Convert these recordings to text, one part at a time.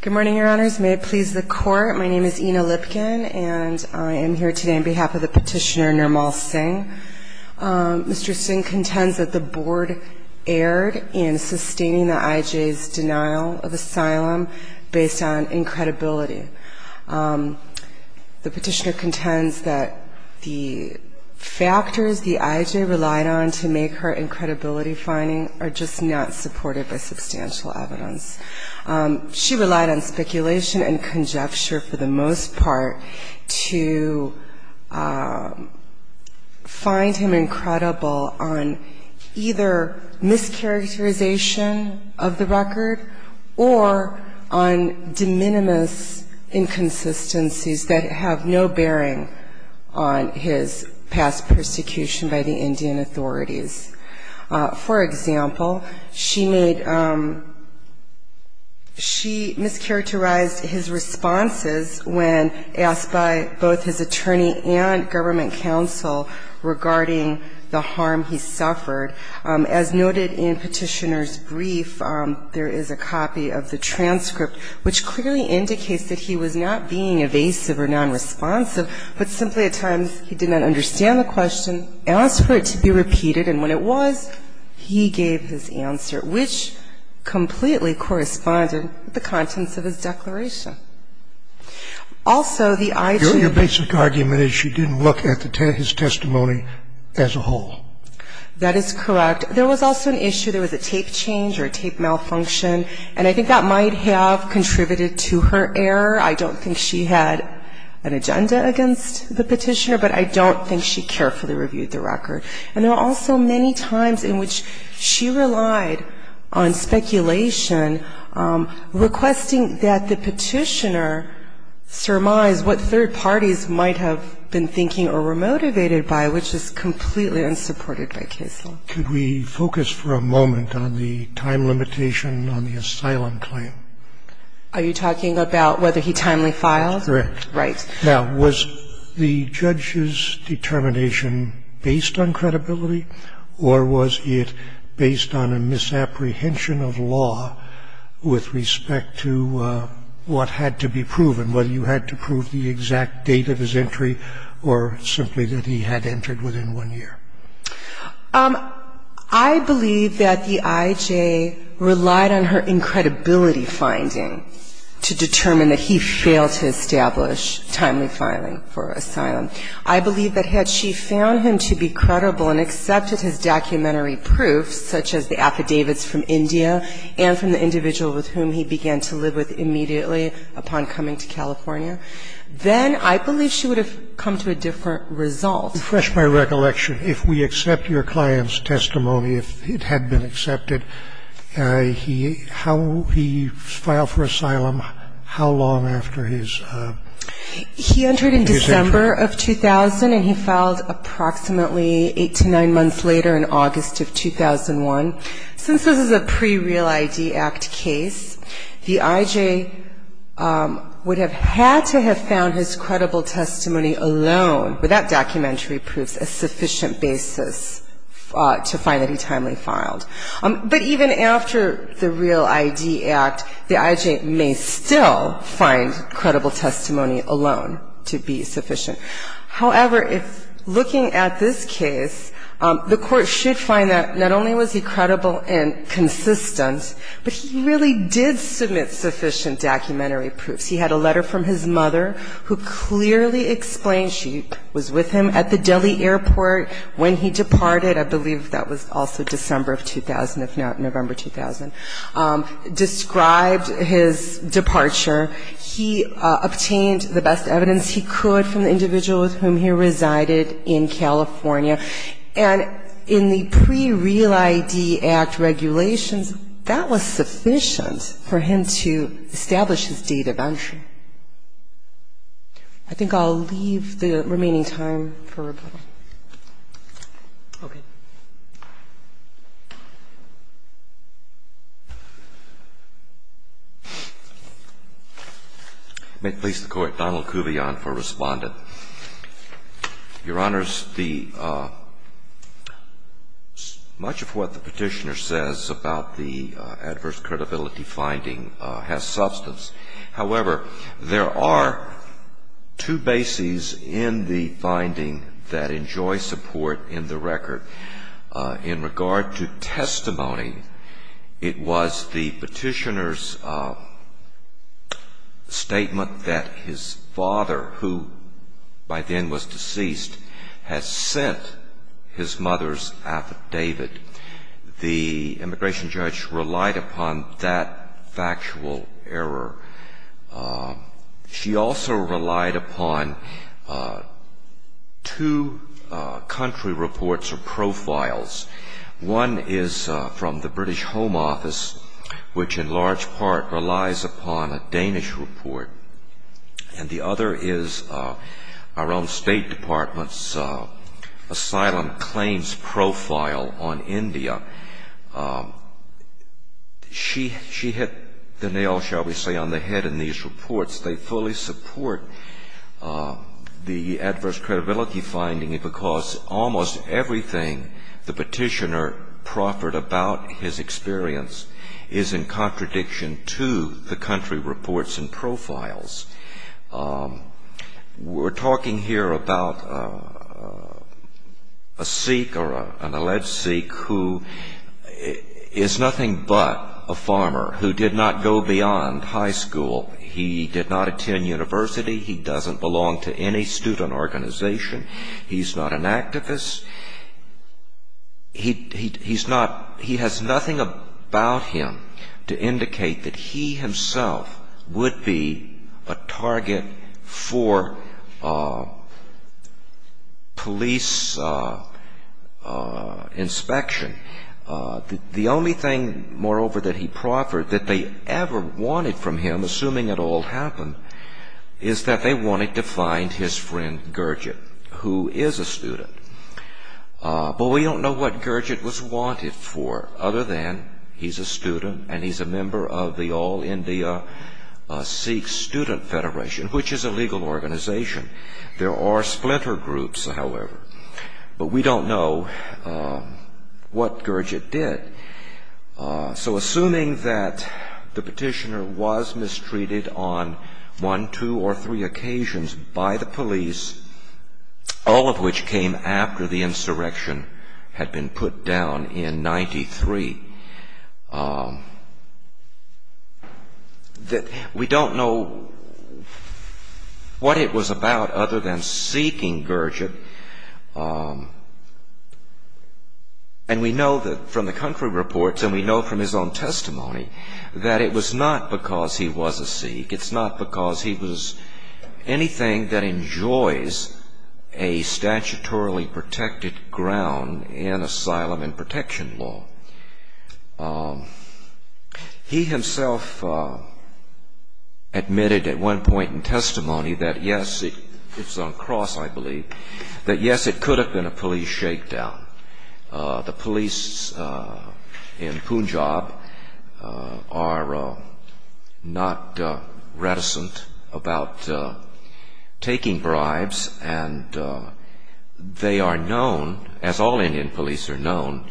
Good morning, your honors. May it please the court, my name is Ina Lipkin and I am here today on behalf of the petitioner Nirmal Singh. Mr. Singh contends that the board erred in sustaining the IJ's denial of asylum based on incredibility. The petitioner contends that the factors the IJ relied on to make her incredibility finding are just not supported by substantial evidence. She relied on speculation and conjecture for the most part to find him incredible on either mischaracterization of the record or on de minimis inconsistencies that have no bearing on his past persecution by the Indian authorities. For example, she made, she mischaracterized his responses when asked by both his attorney and government counsel regarding the harm he suffered. As noted in petitioner's brief, there is a copy of the transcript which clearly indicates that he was not being evasive or negligent in his response to the petitioner. The IJ did not look at his testimony as a whole. That is correct. There was also an issue, there was a tape change or a tape malfunction, and I think that might have contributed to her error. I don't think she had an agenda against the petitioner, but I don't think she carefully reviewed the record. And there are also many times in which she relied on speculation, requesting that the petitioner surmise what third parties might have been thinking or were motivated by, which is completely unsupported by case law. Could we focus for a moment on the time limitation on the asylum claim? Are you talking about whether he timely filed? Correct. Right. Now, was the judge's determination based on credibility, or was it based on a misapprehension of law with respect to what had to be proven, whether you had to prove the exact date of his entry or simply that he had entered within one year? I believe that the IJ relied on her incredibility finding to determine that he failed his statement. I believe that the IJ relied on her incredibility finding to determine that he failed his statement. I believe that the IJ relied on her incredibility finding to establish timely filing for asylum. I believe that had she found him to be credible and accepted his documentary proof, such as the affidavits from India and from the individual with whom he began to live with immediately upon coming to California, then I believe she would have come to a different result. Refresh my recollection. If we accept your client's testimony, if it had been accepted, how he filed for asylum, how long after his entry? He entered in December of 2000, and he filed approximately 8 to 9 months later in August of 2001. Since this is a pre-Real ID Act case, the IJ would have had to have found his credible testimony alone, without documentary proofs, a sufficient basis to find that he timely filed. But even after the Real ID Act, the IJ may still find credible testimony alone to be sufficient. However, if looking at this case, the Court should find that not only was he credible and consistent, but he really did submit sufficient documentary proofs. He had a letter from his mother, who clearly explained she was with him at the Delhi airport when he departed. I believe that was also December of 2000, if not November 2000, described his departure. He obtained the best evidence he could from the individual with whom he resided in California. And in the pre-Real ID Act regulations, that was sufficient for him to establish his date of entry. I think I'll leave the remaining time for rebuttal. Roberts. May it please the Court, Donald Kuvion for Respondent. Your Honors, much of what the Petitioner says about the adverse credibility finding has substance. However, there are two bases in the finding that enjoy support in the record. In regard to testimony, it was the Petitioner's statement that his father, who by then was deceased, had sent his mother's affidavit. The immigration judge relied upon that factual error. She also relied upon two country reports or profiles. One is from the British Home Office, which in large part relies upon a Danish report. And the other is our own State Department's asylum claims profile on India. She hit the nail, shall we say, on the head in these reports. They fully support the adverse credibility finding because almost everything the Petitioner proffered about his experience is in contradiction to the country reports and profiles. We're talking here about a Sikh or an alleged Sikh who is nothing but a farmer, who did not go beyond high school. He did not attend university. He doesn't belong to any student organization. He's not an activist. He has nothing about him to indicate that he himself would be a target for police inspection. The only thing, moreover, that he proffered, that they ever wanted from him, assuming it all happened, is that they wanted to find his friend Gurdjieff, who is a student. But we don't know what Gurdjieff was wanted for, other than he's a student and he's a member of the All India Sikh Student Federation, which is a legal organization. There are splinter groups, however, but we don't know what Gurdjieff did. So assuming that the Petitioner was mistreated on one, two, or three occasions by the police, all of which came after the insurrection had been put down in 93, that we don't know what it was about other than seeking Gurdjieff. And we know from the country reports, and we know from his own testimony, that it was not because he was a Sikh. It's not because he was anything that enjoys a statutorily protected ground in asylum and protection law. He himself admitted at one point in testimony that yes, it's on cross, I believe, that yes, it could have been a police shakedown. The police in Punjab are not reticent about taking bribes, and they are known, as all Indian police are known,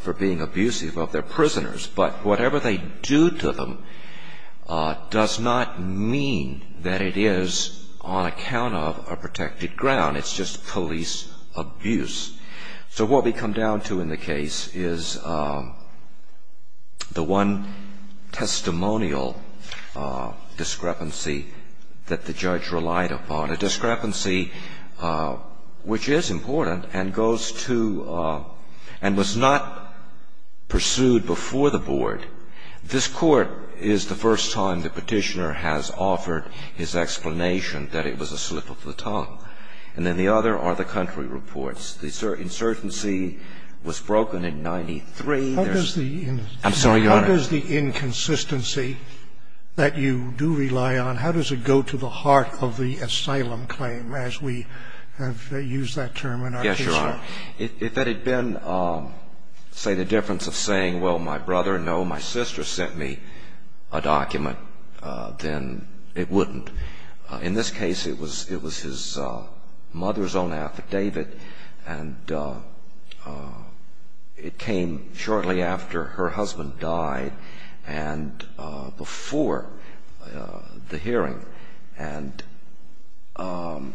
for being abusive of their prisoners. But whatever they do to them does not mean that it is on account of a protected ground. It's just police abuse. So what we come down to in the case is the one testimonial discrepancy that the judge relied upon, a discrepancy which is important and goes to and was not pursued before the board. This Court is the first time the Petitioner has offered his explanation that it was a slip of the tongue. And then the other are the country reports. The insurgency was broken in 93. I'm sorry, Your Honor. What is the inconsistency that you do rely on? How does it go to the heart of the asylum claim, as we have used that term in our case here? Yes, Your Honor. If that had been, say, the difference of saying, well, my brother, no, my sister sent me a document, then it wouldn't. In this case, it was his mother's own affidavit, and it came shortly after her husband died and before the hearing. And the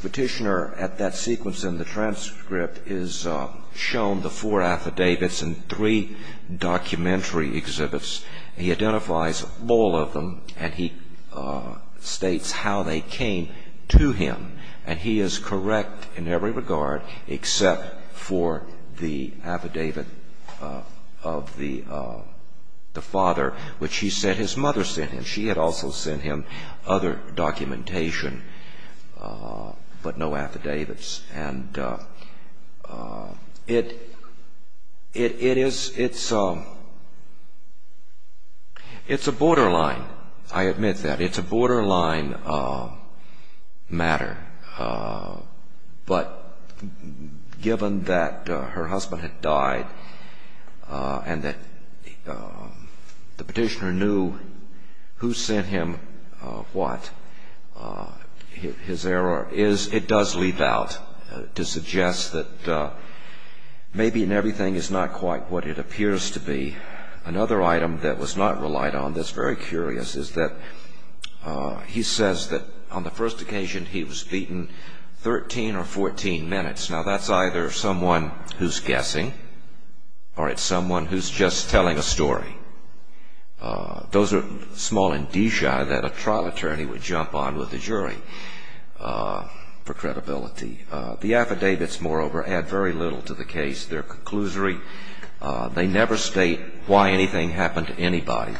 Petitioner, at that sequence in the transcript, is shown the four affidavits and three documentary exhibits. He identifies all of them, and he states how they came to him. And he is correct in every regard except for the affidavit of the father, which he said his mother sent him. She had also sent him other documentation, but no affidavits. And it is ‑‑ it's a borderline, I admit that. It's a borderline matter. But given that her husband had died and that the Petitioner knew who sent him what, his error is ‑‑ it does leave out to suggest that maybe in everything it's not quite what it appears to be. Another item that was not relied on that's very curious is that he says that on the first occasion he was beaten 13 or 14 minutes. Now, that's either someone who's guessing or it's someone who's just telling a story. Those are small indicia that a trial attorney would jump on with a jury for credibility. The affidavits, moreover, add very little to the case. They're conclusory. They never state why anything happened to anybody.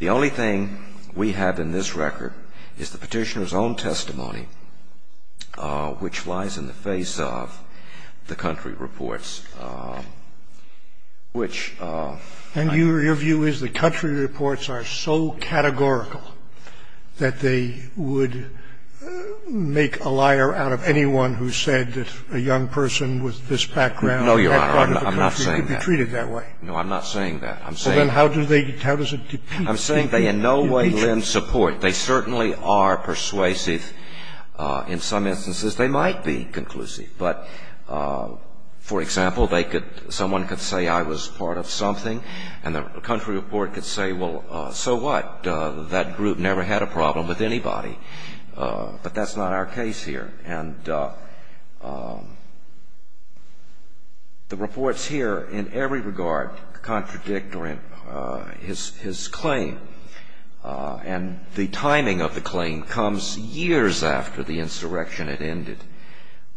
The only thing we have in this record is the Petitioner's own testimony, which lies in the face of the country reports, which ‑‑ And your view is the country reports are so categorical that they would make a liar out of anyone who said that a young person with this background No, Your Honor, I'm not saying that. No, I'm not saying that. I'm saying they in no way lend support. They certainly are persuasive. In some instances they might be conclusive. But, for example, someone could say I was part of something and the country report could say, well, so what? That group never had a problem with anybody. But that's not our case here. And the reports here in every regard contradict his claim. And the timing of the claim comes years after the insurrection had ended.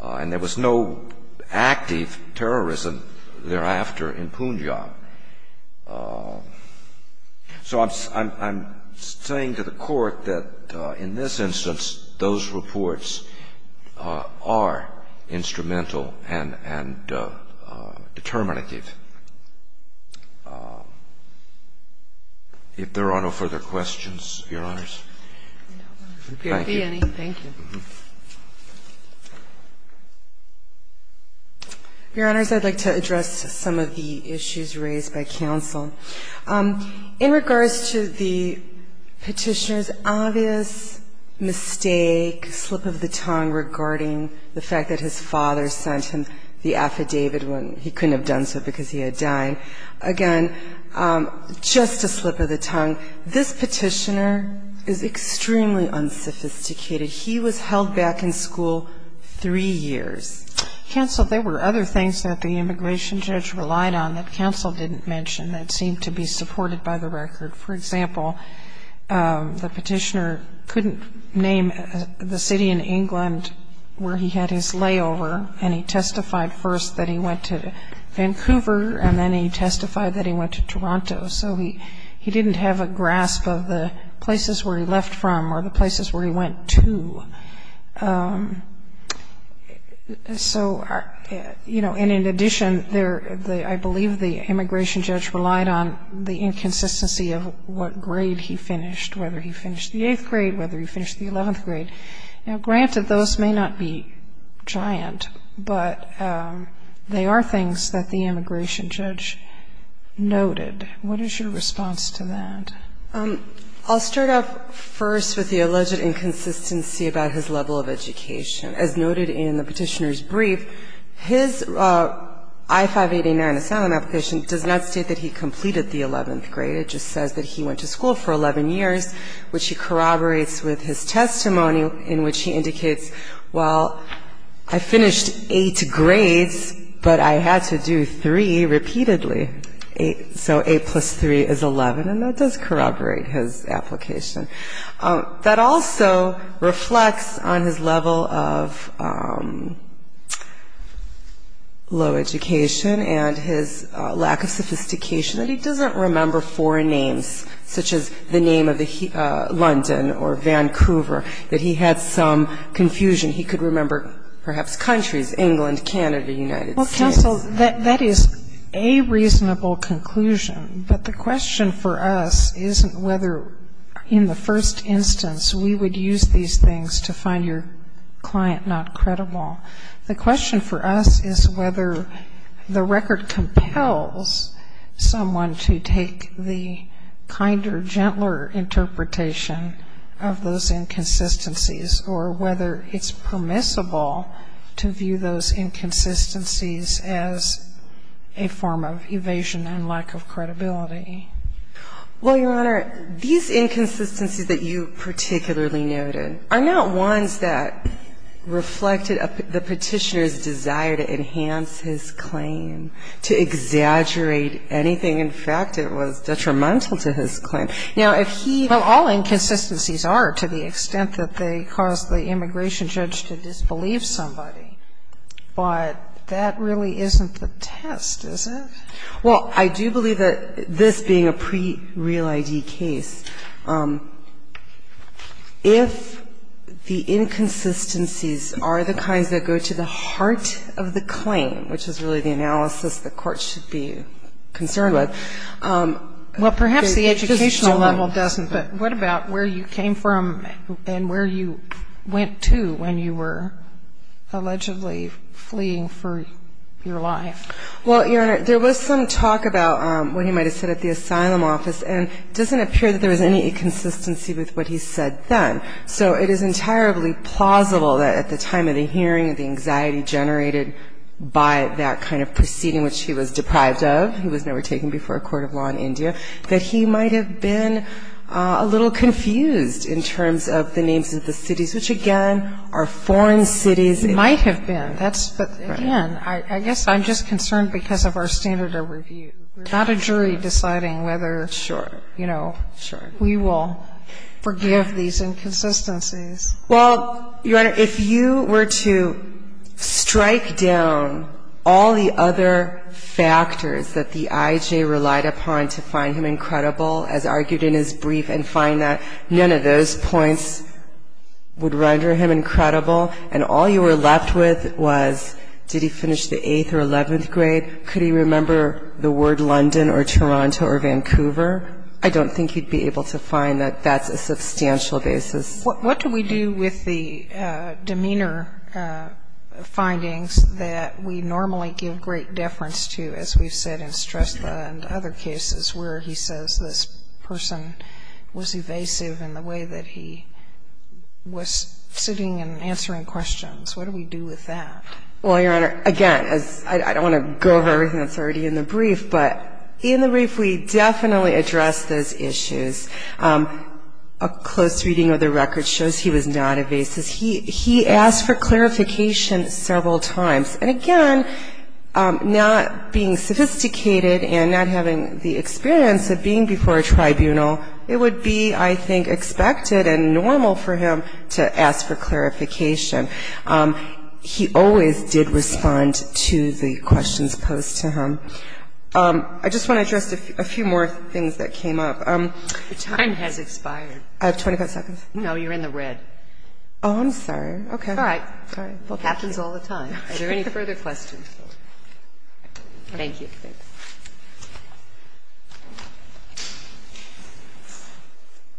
And there was no active terrorism thereafter in Punjab. So I'm saying to the Court that in this instance those reports are instrumental and determinative. If there are no further questions, Your Honors. Thank you. There can't be any. Thank you. Your Honors, I'd like to address some of the issues raised by counsel. In regards to the Petitioner's obvious mistake, slip of the tongue regarding the fact that his father sent him the affidavit when he couldn't have done so because he had died, again, just a slip of the tongue. This Petitioner is extremely unsophisticated. He was held back in school three years. Counsel, there were other things that the immigration judge relied on that counsel didn't mention that seemed to be supported by the record. For example, the Petitioner couldn't name the city in England where he had his layover, and he testified first that he went to Vancouver, and then he testified that he went to Toronto. So he didn't have a grasp of the places where he left from or the places where he went to. So, you know, and in addition, I believe the immigration judge relied on the inconsistency of what grade he finished, whether he finished the 8th grade, whether he finished the 11th grade. Now, granted, those may not be giant, but they are things that the immigration judge noted. What is your response to that? I'll start off first with the alleged inconsistency about his level of education. As noted in the Petitioner's brief, his I-589 asylum application does not state that he completed the 11th grade. It just says that he went to school for 11 years, which he corroborates with his testimony in which he indicates, well, I finished 8 grades, but I had to do 3 repeatedly. So 8 plus 3 is 11, and that does corroborate his application. That also reflects on his level of low education and his lack of sophistication that he doesn't remember foreign names, such as the name of London or Vancouver, that he had some confusion. He could remember perhaps countries, England, Canada, United States. So that is a reasonable conclusion. But the question for us isn't whether in the first instance we would use these things to find your client not credible. The question for us is whether the record compels someone to take the kinder, gentler interpretation of those inconsistencies, or whether it's permissible at all to view those inconsistencies as a form of evasion and lack of credibility. Well, Your Honor, these inconsistencies that you particularly noted are not ones that reflected the Petitioner's desire to enhance his claim, to exaggerate anything. In fact, it was detrimental to his claim. Now, if he ---- All inconsistencies are to the extent that they cause the immigration judge to disbelieve somebody. But that really isn't the test, is it? Well, I do believe that this being a pre-real ID case, if the inconsistencies are the kinds that go to the heart of the claim, which is really the analysis the Court should be concerned with. Well, perhaps the educational level doesn't, but what about where you came from and where you went to when you were allegedly fleeing for your life? Well, Your Honor, there was some talk about what he might have said at the asylum office, and it doesn't appear that there was any inconsistency with what he said then. So it is entirely plausible that at the time of the hearing, the anxiety generated by that kind of proceeding, which he was deprived of, he was never taken before a court of law in India, that he might have been a little confused in terms of the names of the cities, which, again, are foreign cities. It might have been, but, again, I guess I'm just concerned because of our standard of review. We're not a jury deciding whether, you know, we will forgive these inconsistencies. Well, Your Honor, if you were to strike down all the other factors that the I.J. relied upon to find him incredible, as argued in his brief, and find that none of those points would render him incredible, and all you were left with was did he finish the 8th or 11th grade, could he remember the word London or Toronto or Vancouver, I don't think you'd be able to find that that's a substantial basis. What do we do with the demeanor findings that we normally give great deference to, as we've said in Stresla and other cases where he says this person was evasive in the way that he was sitting and answering questions? What do we do with that? Well, Your Honor, again, I don't want to go over everything that's already in the issues. A close reading of the record shows he was not evasive. He asked for clarification several times, and again, not being sophisticated and not having the experience of being before a tribunal, it would be, I think, expected and normal for him to ask for clarification. He always did respond to the questions posed to him. I just want to address a few more things that came up. Your time has expired. I have 25 seconds? No, you're in the red. Oh, I'm sorry. Okay. All right. Happens all the time. Are there any further questions? Thank you. Thank you.